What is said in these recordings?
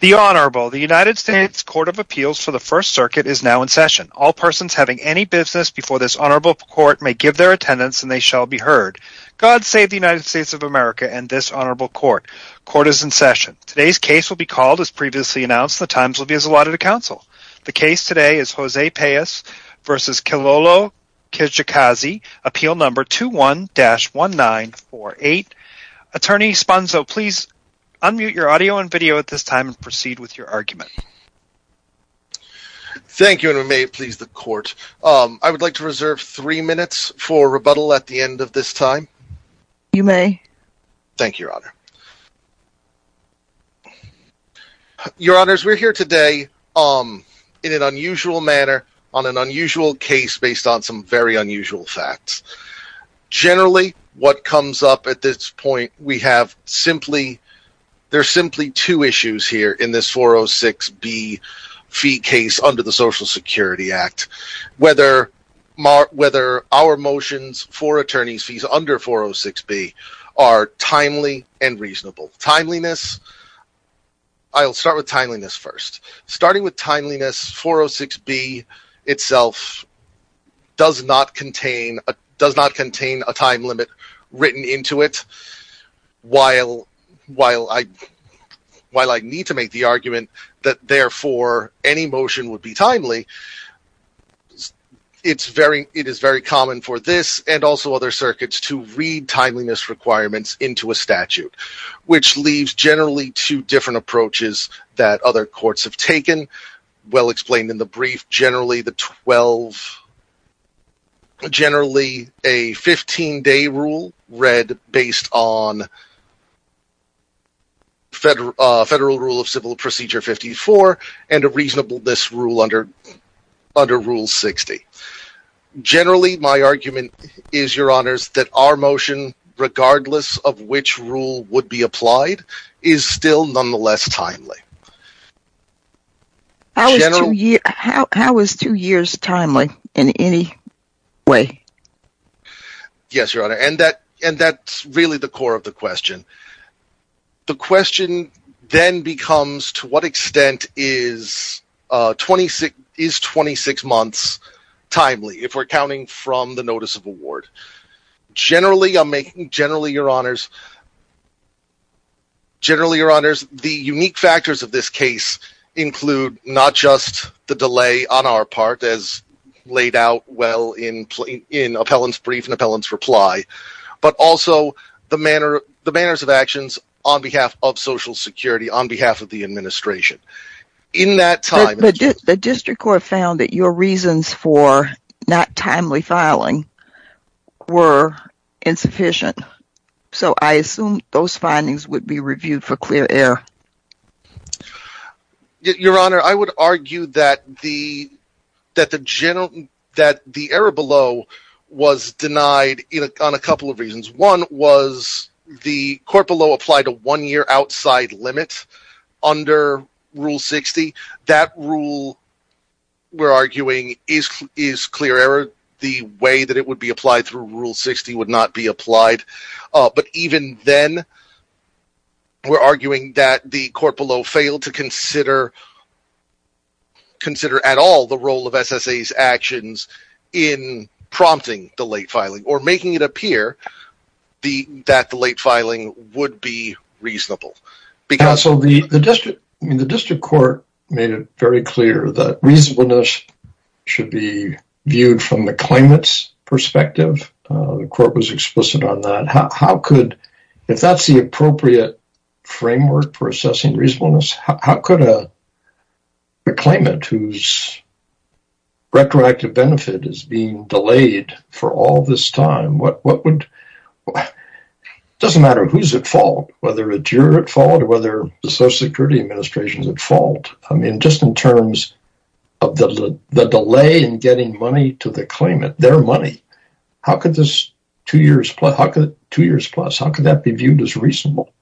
The Honorable, the United States Court of Appeals for the First Circuit is now in session. All persons having any business before this Honorable Court may give their attendance and they shall be heard. God save the United States of America and this Honorable Court. Court is in session. Today's case will be called as previously announced. The times will be as allotted to counsel. The case today is Jose Pais v. Kilolo Kijakazi, appeal number 21-1948. Attorney Sponso, please unmute your audio and video at this time and proceed with your argument. Thank you and may it please the court. I would like to reserve three minutes for rebuttal at the end of this time. You may. Thank you, Your Honor. Your Honors, we're here today in an unusual manner on an unusual case based on some very unusual facts. Generally, what comes up at this point, we have simply, there's simply two issues here in this 406B fee case under the Social Security Act. Whether our motions for attorney's fees under 406B are timely and reasonable. Timeliness, I'll start with timeliness first. Starting with does not contain a time limit written into it. While I need to make the argument that therefore any motion would be timely, it is very common for this and also other circuits to read timeliness requirements into a statute, which leaves generally two different approaches that other than to involve generally a 15-day rule read based on Federal Rule of Civil Procedure 54 and a reasonableness rule under under Rule 60. Generally, my argument is, Your Honors, that our motion, regardless of which rule would be applied, is still nonetheless timely. How is two years timely in any way? Yes, Your Honor, and that's really the core of the question. The question then becomes to what extent is 26 months timely if we're counting from the notice of award. Generally, Your Honors, the unique factors of this case include not just the delay on our part as laid out well in appellant's brief and appellant's reply, but also the manners of actions on behalf of Social Security, on behalf of the administration. In that time, the District Court found that your reasons for not timely filing were insufficient, so I assume those findings would be reviewed for clear error. Your Honor, I would argue that the error below was denied on a couple of reasons. One was the court below applied a one-year outside limit under Rule 60. That rule, we're arguing, is clear error. The way that it would be applied through Rule 60 would not be applied, but even then, we're arguing that the court below failed to consider at all the role of SSA's making it appear that the late filing would be reasonable. The District Court made it very clear that reasonableness should be viewed from the claimant's perspective. The court was explicit on that. If that's the appropriate framework for assessing reasonableness, how could a claimant whose retroactive benefit is being delayed for all this time? It doesn't matter who's at fault, whether it's your fault or whether the Social Security Administration's at fault. Just in terms of the delay in getting money to the claimant, their money, how could that be viewed as reasonable?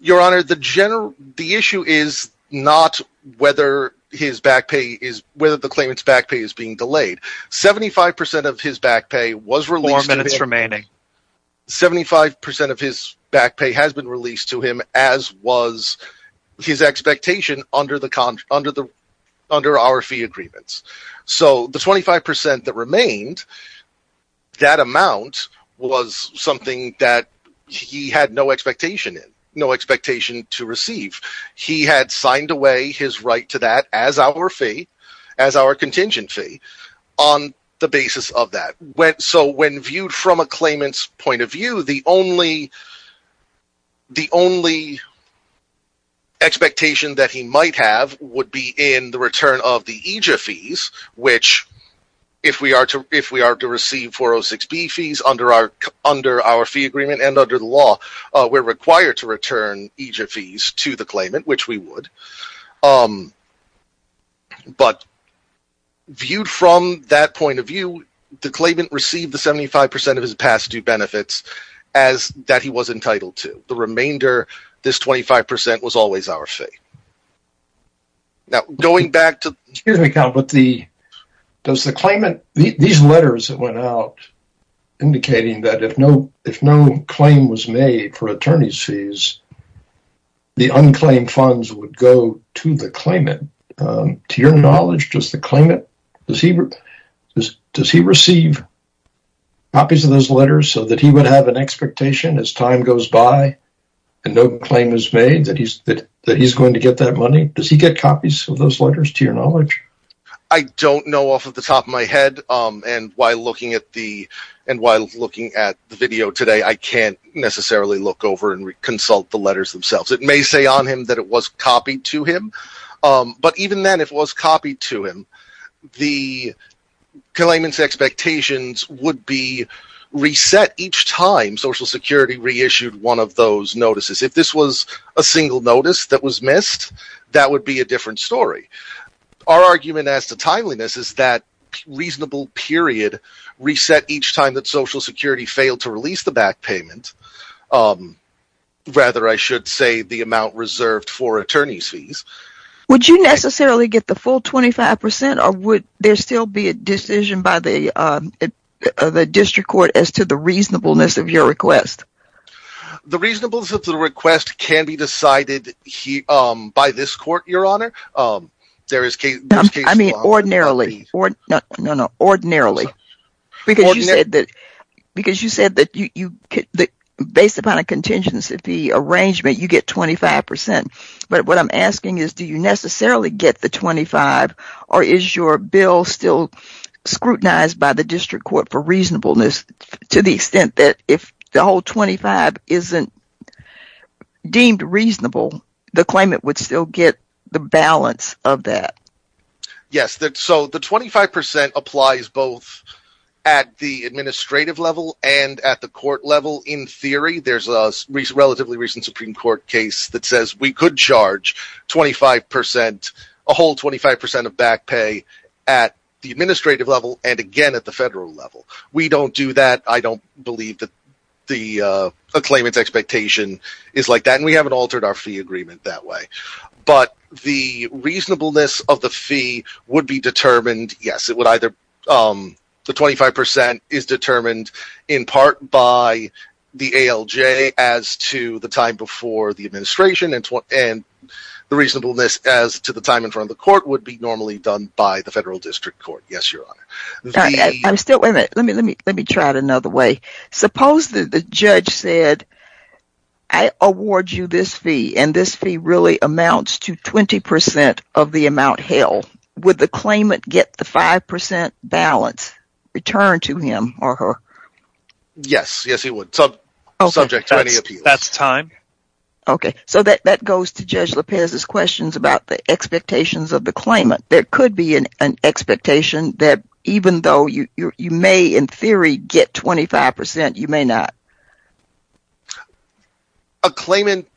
Your Honor, the issue is not whether the claimant's back pay is being delayed. Seventy-five percent of his back pay has been released to him, as was his expectation under our fee agreements. The 25 percent that remained, that amount was something that he had no expectation to receive. He had signed away his right to that as our contingent fee on the basis of that. When viewed from a claimant's point of view, the only expectation that he might have would be in the return of the EJA fees, which if we are to receive 406B fees under our fee agreement and under the law, we're required to return EJA fees to the claimant, which we would. Viewed from that point of view, the claimant received the 75 percent of his past due benefits that he was entitled to. The remainder, this 25 percent, was always our fee. Now, going back to the claimant, these letters that went out indicating that if no claim was made for attorney's fees, the unclaimed funds would go to the claimant. To your knowledge, does the claimant receive copies of those letters so that he would have an expectation as time goes by and no claim is made that he's going to get that money? Does he get copies of those letters, to your knowledge? I don't know off the top of my head, and while looking at the video today, I can't necessarily look over and consult the letters themselves. It may say on him that it was copied to him, but even then, if it was copied to him, the claimant's expectations would be of those notices. If this was a single notice that was missed, that would be a different story. Our argument as to timeliness is that reasonable period reset each time that Social Security failed to release the back payment. Rather, I should say the amount reserved for attorney's fees. Would you necessarily get the full 25 percent, or would there still be a decision by the District Court for reasonableness? The reasonableness of the request can be decided by this Court, Your Honor. Ordinarily, because you said that based upon a contingency arrangement, you get 25 percent, but what I'm asking is, do you necessarily get the 25, or is your bill still deemed reasonable, the claimant would still get the balance of that? Yes, so the 25 percent applies both at the administrative level and at the court level. In theory, there's a relatively recent Supreme Court case that says we could charge 25 percent, a whole 25 percent of back pay at the administrative level and again at the federal level. We don't do that. I don't believe the claimant's expectation is like that, and we haven't altered our fee agreement that way, but the reasonableness of the fee would be determined, yes, it would either, the 25 percent is determined in part by the ALJ as to the time before the administration, and the reasonableness as to the time in front of the court would be normally done by the Federal Judge. Suppose the judge said, I award you this fee, and this fee really amounts to 20 percent of the amount held, would the claimant get the 5 percent balance returned to him or her? Yes, yes he would, subject to any appeals. Okay, that's time. Okay, so that goes to Judge Lopez's questions about the expectations of the claimant. There could be an expectation that even though you may in theory get 25 percent, you may not. A claimant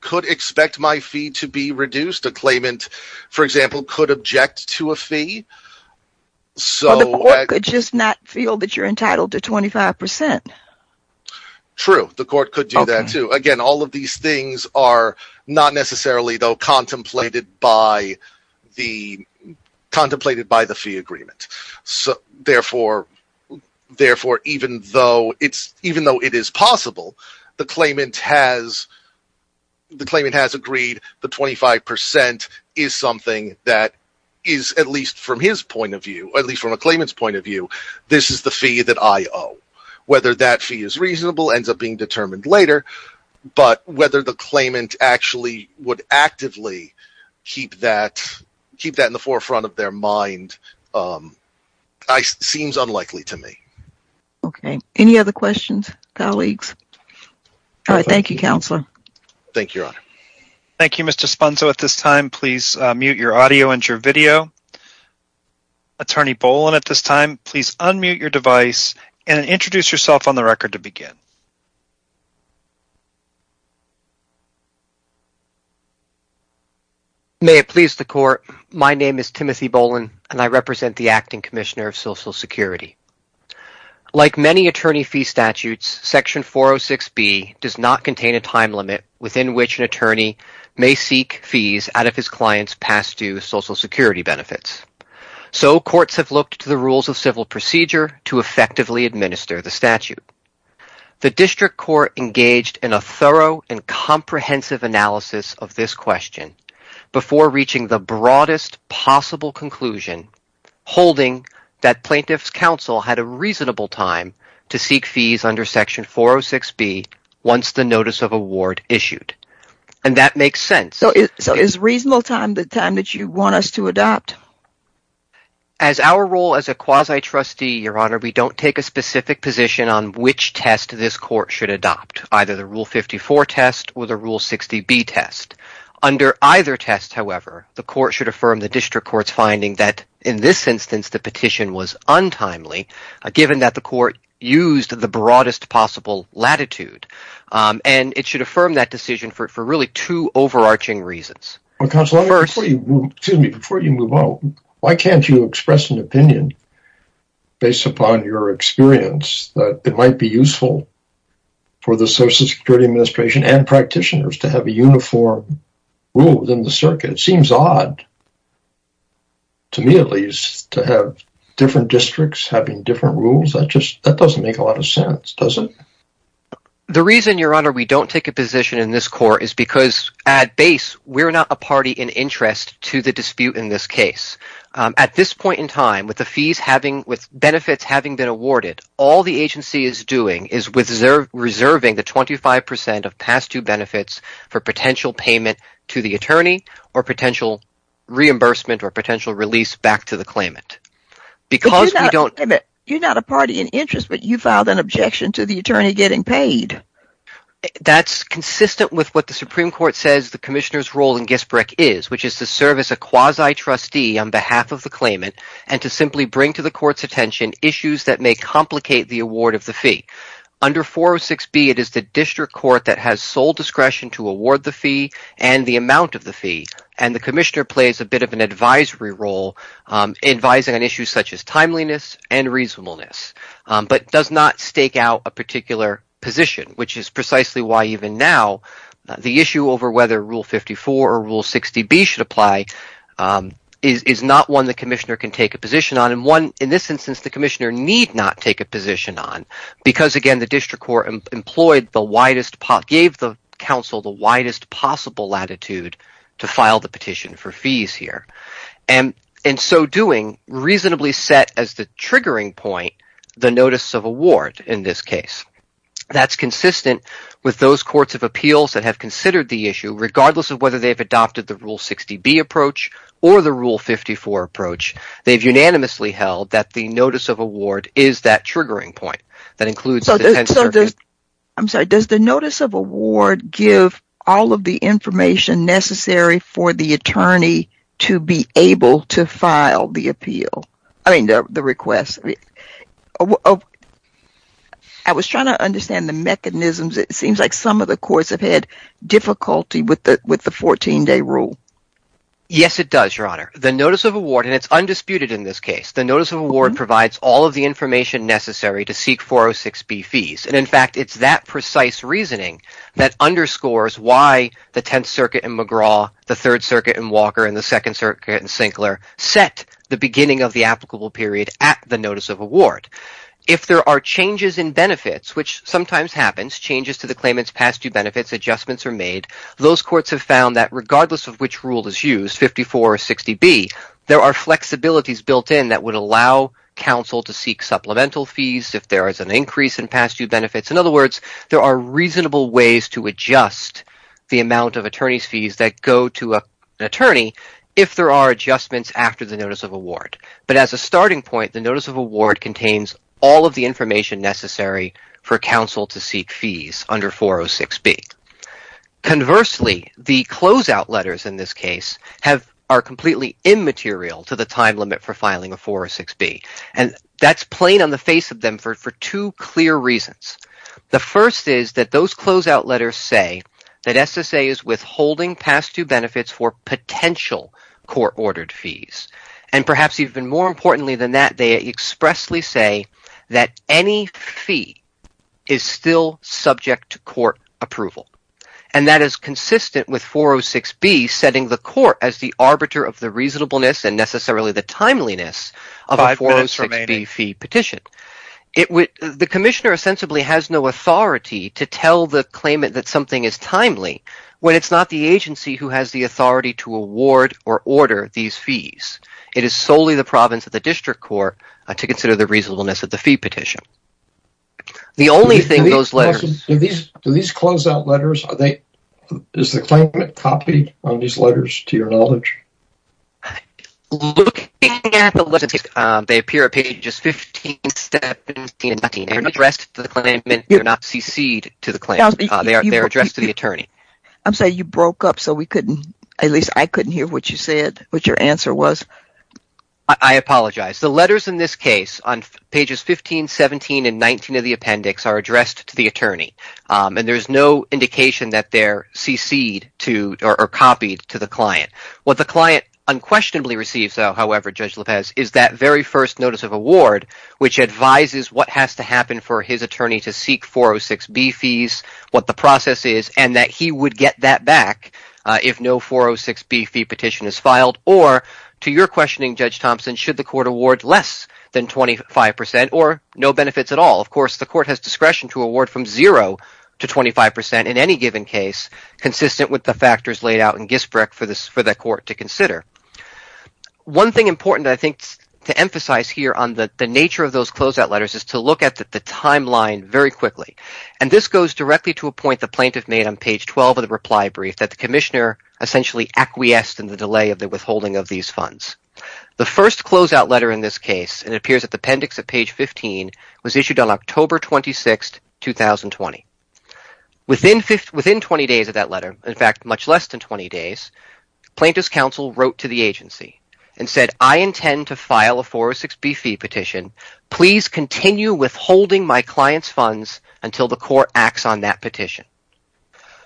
could expect my fee to be reduced. A claimant, for example, could object to a fee. So the court could just not feel that you're entitled to 25 percent. True, the court could do that too. Again, all of these things are not necessarily, though, contemplated by the fee agreement. Therefore, even though it is possible, the claimant has agreed the 25 percent is something that is, at least from his point of view, at least from a claimant's point of view, this is the fee that I owe. Whether that fee is kept in the forefront of their mind seems unlikely to me. Okay, any other questions, colleagues? All right, thank you, Counselor. Thank you, Your Honor. Thank you, Mr. Sponzo. At this time, please mute your audio and your video. Attorney Boland, at this time, please unmute your device and introduce yourself on the record to begin. May it please the Court, my name is Timothy Boland, and I represent the Acting Commissioner of Social Security. Like many attorney fee statutes, Section 406B does not contain a time limit within which an attorney may seek fees out of his client's past due Social Security benefits. So, courts have looked to the rules of civil procedure to effectively administer the statute. The District Court engaged in a thorough and comprehensive analysis of this question before reaching the broadest possible conclusion, holding that Plaintiff's Counsel had a reasonable time to seek fees under Section 406B once the notice of award issued, and that makes sense. So, is reasonable time the time that you want us to adopt? As our role as a quasi-trustee, Your Honor, we don't take a specific position on which test this Court should adopt, either the Rule 54 test or the Rule 60B test. Under either test, however, the Court should affirm the District Court's finding that, in this instance, the petition was untimely, given that the Court used the broadest possible latitude, and it should reason. Why can't you express an opinion, based upon your experience, that it might be useful for the Social Security Administration and practitioners to have a uniform rule within the circuit? It seems odd, to me at least, to have different districts having different rules. That doesn't make a lot of sense, does it? The reason, Your Honor, we don't take a position in this Court is because, at base, we're not a party in interest to the dispute in this case. At this point in time, with benefits having been awarded, all the agency is doing is reserving the 25% of past-due benefits for potential payment to the attorney or potential reimbursement or potential release back to the claimant. But you're not a party in interest, but you filed an objection to the attorney getting paid. That's consistent with what the Supreme Court says the Commissioner's role in Gisbrec is, which is to serve as a quasi-trustee on behalf of the claimant and to simply bring to the Court's attention issues that may complicate the award of the fee. Under 406B, it is the District Court that has sole discretion to award the fee and the amount of the fee, and the Commissioner plays a advisory role, advising on issues such as timeliness and reasonableness, but does not stake out a particular position, which is precisely why, even now, the issue over whether Rule 54 or Rule 60B should apply is not one the Commissioner can take a position on and one, in this instance, the Commissioner need not take a position on because, again, the District Court employed gave the Council the widest possible latitude to file the petition for fees here, and in so doing, reasonably set as the triggering point the notice of award in this case. That's consistent with those courts of appeals that have considered the issue, regardless of whether they've adopted the Rule 60B approach or the Rule 54 approach. They've unanimously held that the notice of award is that triggering point that includes the 10th Circuit. I'm sorry, does the notice of award give all of the information necessary for the attorney to be able to file the appeal, I mean, the request? I was trying to understand the mechanisms. It seems like some of the courts have had difficulty with the 14-day rule. Yes, it does, Your Honor. The notice of award, and it's undisputed in this case, the notice of award provides all of the information necessary to seek 406B fees, and in fact, it's that precise reasoning that underscores why the 10th Circuit in McGraw, the 3rd Circuit in Walker, and the 2nd Circuit in Sinclair set the beginning of the applicable period at the notice of award. If there are changes in benefits, which sometimes happens, changes to the claimant's past due benefits, adjustments are made, those courts have found that regardless of which rule is used, 54 or 60B, there are flexibilities built in that would allow counsel to seek supplemental fees if there is an increase in past due benefits. In other words, there are reasonable ways to adjust the amount of attorney's fees that go to an attorney if there are adjustments after the notice of award, but as a starting point, the notice of award contains all of the information necessary for counsel to seek fees under 406B. Conversely, the closeout letters in this case are completely immaterial to the time limit for filing a 406B, and that's plain on the face of them for two clear reasons. The first is that those closeout letters say that SSA is withholding past due benefits for potential court-ordered fees, and perhaps even more importantly than that, they expressly say that any fee is still subject to court approval, and that is consistent with 406B setting the court as the arbiter of the reasonableness and necessarily the timeliness of a 406B fee petition. The commissioner ostensibly has no authority to tell the claimant that something is timely when it's not the agency who has the authority to award or order these fees. It is solely the province of the district court to consider the reasonableness of the fee petition. Douglas Goldstein, CFP®, is the director of Profile Investment Services and the host of the Goldstein on Gelt radio show. I apologize. The letters in this case, on pages 15, 17, and 19 of the appendix, are addressed to the attorney, and there's no indication that they're cc'd or copied to the client. What the client unquestionably receives, however, Judge Lopez, is that very first notice of award, which advises what has to happen for his attorney to seek 406B fees, what the process is, and that he would get that back if no 406B fee petition is filed. Or, to your questioning, Judge Thompson, should the court award less than 25% or no benefits at all? Of course, the court has discretion to award from zero to 25% in any given case, consistent with the factors laid out in GISBREC for the court to consider. One thing important, I think, to emphasize here on the nature of those closeout letters is to the timeline very quickly, and this goes directly to a point the plaintiff made on page 12 of the reply brief that the commissioner essentially acquiesced in the delay of the withholding of these funds. The first closeout letter in this case, and it appears at the appendix at page 15, was issued on October 26, 2020. Within 20 days of that letter, in fact, much less than 20 days, plaintiff's counsel wrote to the agency and said, I intend to file a 406B fee petition. Please continue withholding my client's funds until the court acts on that petition.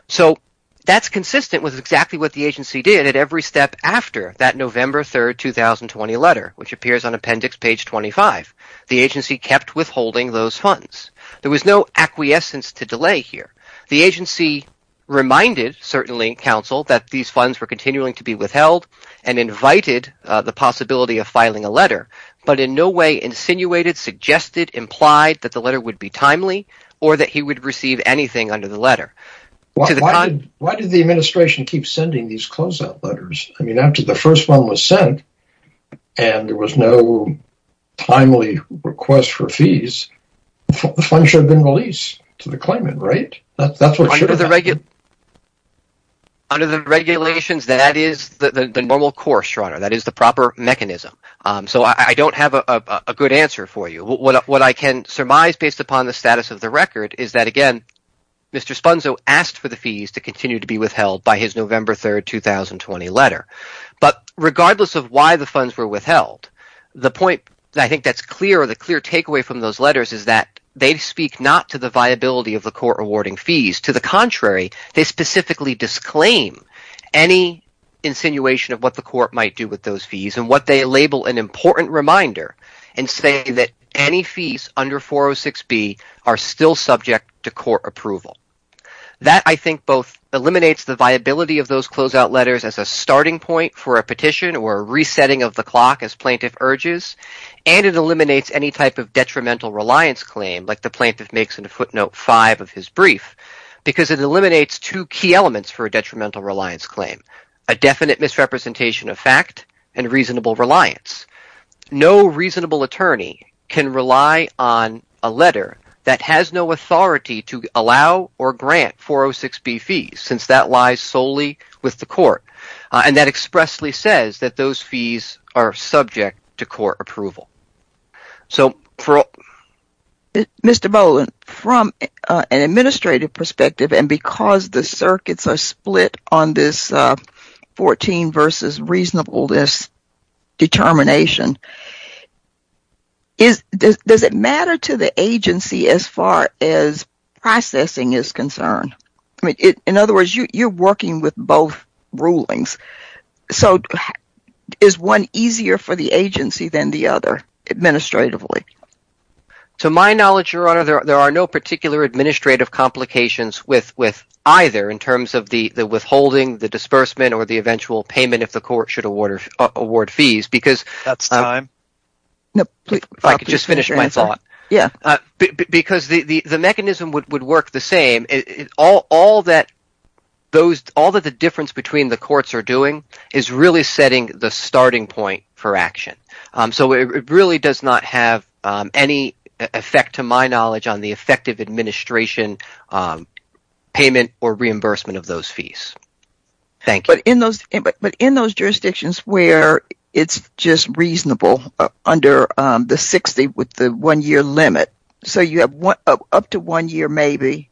So that's consistent with exactly what the agency did at every step after that November 3, 2020 letter, which appears on appendix page 25. The agency kept withholding those funds. There was no acquiescence to delay here. The agency reminded, certainly counsel, that these funds were continuing to be withheld and invited the possibility of filing a letter, but in no way insinuated, suggested, implied that the letter would be timely, or that he would receive anything under the letter. Why did the administration keep sending these closeout letters? I mean, after the first one was sent and there was no timely request for fees, the funds should have been released to the claimant, right? That's what should have happened. Under the regulations, that is the normal course, Your Honor. That is the proper mechanism. So I don't have a good answer for you. What I can surmise based upon the status of the record is that, again, Mr. Spunzo asked for the fees to continue to be withheld by his November 3, 2020 letter. But regardless of why the funds were withheld, the point that I think that's clear, or the clear takeaway from those letters, is that they speak not to the viability of the court rewarding fees. To the contrary, they specifically disclaim any insinuation of what the court might do with those fees and what they label an important reminder and say that any fees under 406B are still subject to court approval. That, I think, both eliminates the viability of those closeout letters as a starting point for a petition or a resetting of the clock, as plaintiff urges, and it eliminates any type of detrimental reliance claim, like the plaintiff makes in footnote 5 of his brief, because it and reasonable reliance. No reasonable attorney can rely on a letter that has no authority to allow or grant 406B fees, since that lies solely with the court, and that expressly says that those fees are subject to court approval. So for Mr. Boland, from an administrative perspective, and because the circuits are split on this 14 versus reasonable determination, does it matter to the agency as far as processing is concerned? In other words, you're working with both rulings, so is one easier for the agency than the other, administratively? To my knowledge, Your Honor, there are no particular administrative complications with either, in terms of the withholding, the disbursement, or the eventual payment if the court should award fees, because the mechanism would work the same. All that the difference between the courts are doing is really setting the starting point for a payment or reimbursement of those fees. Thank you. But in those jurisdictions where it's just reasonable under the 60 with the one-year limit, so you have up to one year maybe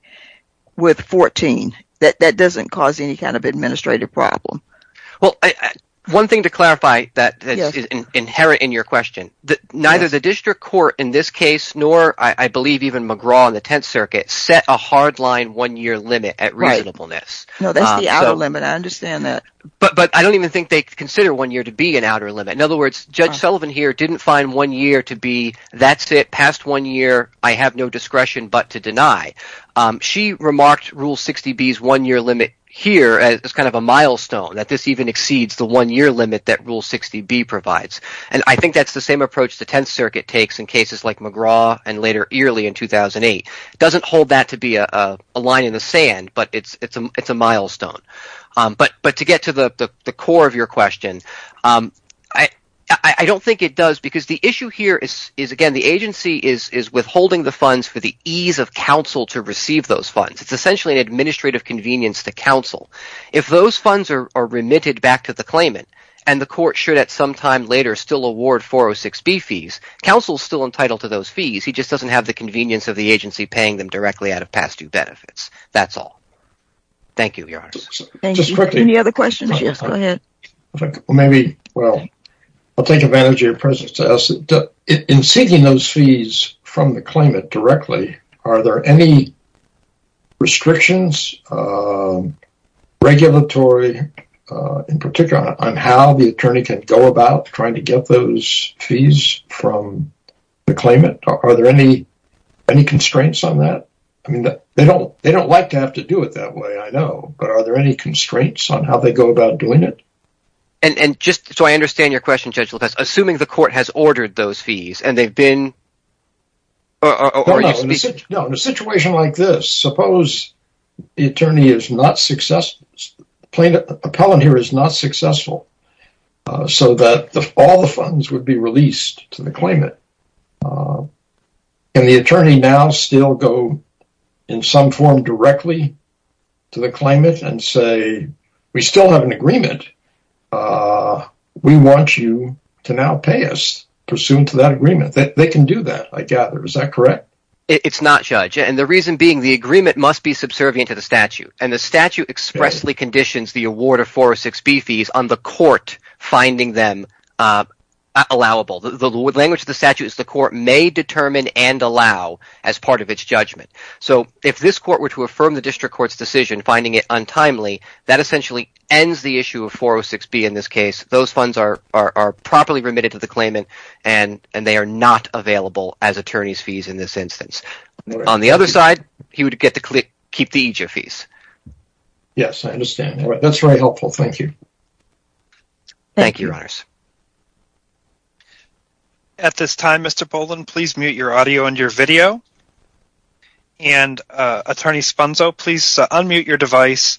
with 14, that doesn't cause any kind of administrative problem? Well, one thing to clarify that's inherent in your question, neither the district court in this case, nor I believe McGraw in the Tenth Circuit, set a hardline one-year limit at reasonableness. No, that's the outer limit. I understand that. But I don't even think they consider one year to be an outer limit. In other words, Judge Sullivan here didn't find one year to be, that's it, past one year, I have no discretion but to deny. She remarked Rule 60B's one-year limit here as kind of a milestone, that this even exceeds the one-year limit that Rule 60B provides, and I think that's the same approach the Tenth Circuit takes in cases like McGraw and later early in 2008. It doesn't hold that to be a line in the sand, but it's a milestone. But to get to the core of your question, I don't think it does because the issue here is, again, the agency is withholding the funds for the ease of counsel to receive those funds. It's essentially an administrative convenience to counsel. If those funds are remitted back to the claimant and the court should at some time later still award 406B fees, counsel is still entitled to those fees, he just doesn't have the convenience of the agency paying them directly out of past due benefits. That's all. Thank you, Your Honor. Thank you. Any other questions? Yes, go ahead. Maybe, well, I'll take advantage of your presence to ask, in seeking those fees from the claimant are there any restrictions, regulatory, in particular, on how the attorney can go about trying to get those fees from the claimant? Are there any constraints on that? I mean, they don't like to have to do it that way, I know, but are there any constraints on how they go about doing it? And just so I understand your question, Judge Lopez, assuming the court has a situation like this, suppose the attorney is not successful, the appellant here is not successful, so that all the funds would be released to the claimant, can the attorney now still go in some form directly to the claimant and say, we still have an agreement, we want you to now pay us pursuant to that agreement? They can do that, I gather, is that correct? It's not, Judge, and the reason being the agreement must be subservient to the statute, and the statute expressly conditions the award of 406B fees on the court finding them allowable. The language of the statute is the court may determine and allow as part of its judgment, so if this court were to affirm the district court's decision, finding it untimely, that essentially ends the issue of 406B in this case. Those funds are properly remitted to the instance. On the other side, he would get to keep the EJ fees. Yes, I understand. That's very helpful. Thank you. Thank you, Your Honors. At this time, Mr. Boland, please mute your audio and your video, and Attorney Sponzo, please unmute your device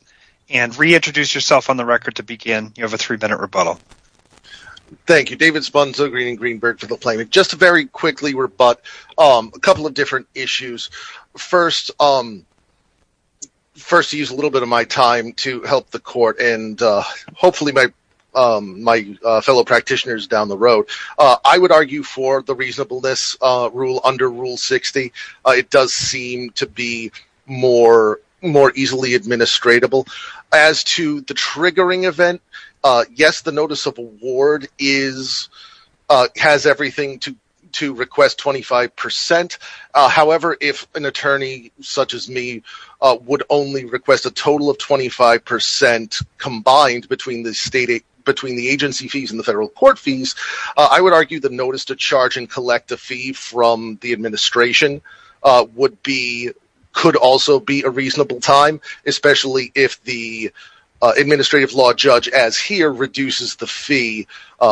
and reintroduce yourself on the record to begin. You have a three minute rebuttal. Thank you, David Sponzo, Greenberg for the appointment. Just very quickly, a couple of different issues. First, to use a little bit of my time to help the court and hopefully my fellow practitioners down the road, I would argue for the reasonableness rule under Rule 60. It does seem to be more easily administratable. As to the triggering event, yes, the notice of award has everything to request 25%. However, if an attorney such as me would only request a total of 25% combined between the agency fees and the federal court fees, I would argue the notice to charge and collect a fee from the administration could also be a reasonable time, especially if the administrative law judge as here reduces the fee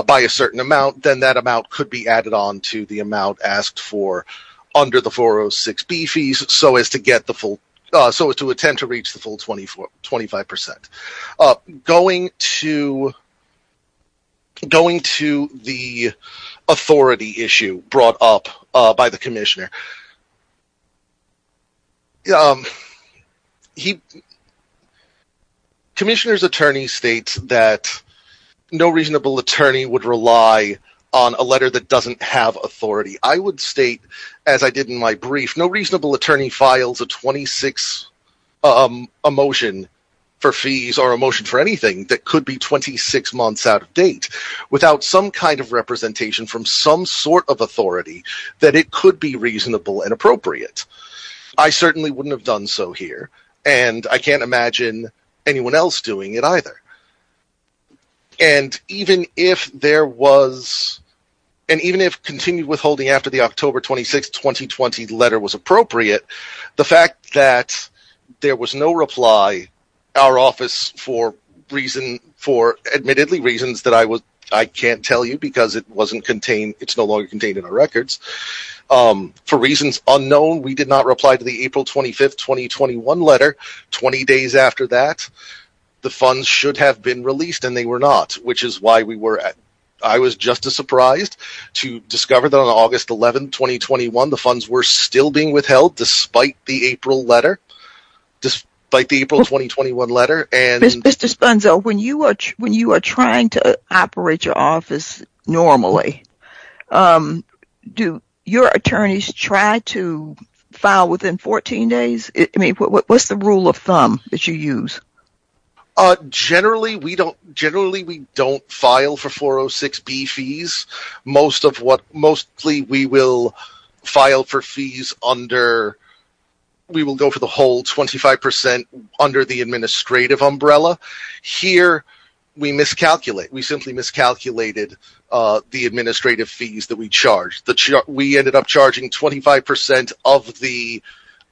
by a certain amount, then that amount could be added on to the amount asked for under the 406B fees so as to attempt to reach the full 25%. Going to the authority issue brought up by the commissioner. Commissioner's attorney states that no reasonable attorney would rely on a letter that doesn't have authority. I would state, as I did in my brief, no reasonable attorney files a 26 emotion for fees or emotion for anything that could be 26 months out of date without some kind of representation from some sort of authority that it could be reasonable and appropriate. I certainly wouldn't have done so here, and I can't imagine anyone else doing it either. And even if continued withholding after the October 26, 2020 letter was appropriate, the fact that there was no reply, our office, for reasons, for admittedly reasons that I can't tell you because it wasn't contained, it's no longer contained in our records, for reasons unknown, we did not reply to the April 25, 2021 letter. 20 days after that, the funds should have been released and they were not, which is why we were, I was just as surprised to discover that on August 11, 2021, the funds were still being withheld despite the April letter, despite the April 2021 letter. Mr. Spunzel, when you are trying to operate your office normally, do your attorneys try to file within 14 days? What's the rule of thumb that you use? Generally, we don't file for fees. We will file for fees under, we will go for the whole 25% under the administrative umbrella. Here, we miscalculate. We simply miscalculated the administrative fees that we charged. We ended up charging 25% of the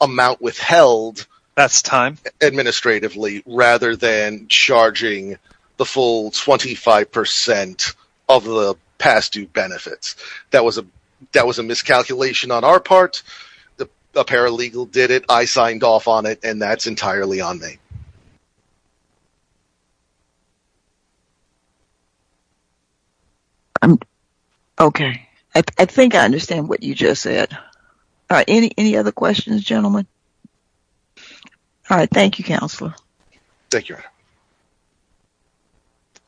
amount withheld. That's time. Administratively rather than charging the full 25% of the past due benefits. That was a miscalculation on our part. The paralegal did it. I signed off on it and that's entirely on me. Okay. I think I understand what you just said. All right. Any other questions, gentlemen? All right. Thank you, Counselor. Thank you.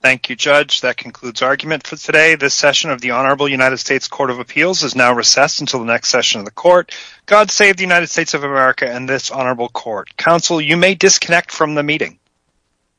Thank you, Judge. That concludes argument for today. This session of the Honorable United States Court of Appeals is now recessed until the next session of the court. God save the United States of America and this Honorable Court. Counsel, you may disconnect from the meeting.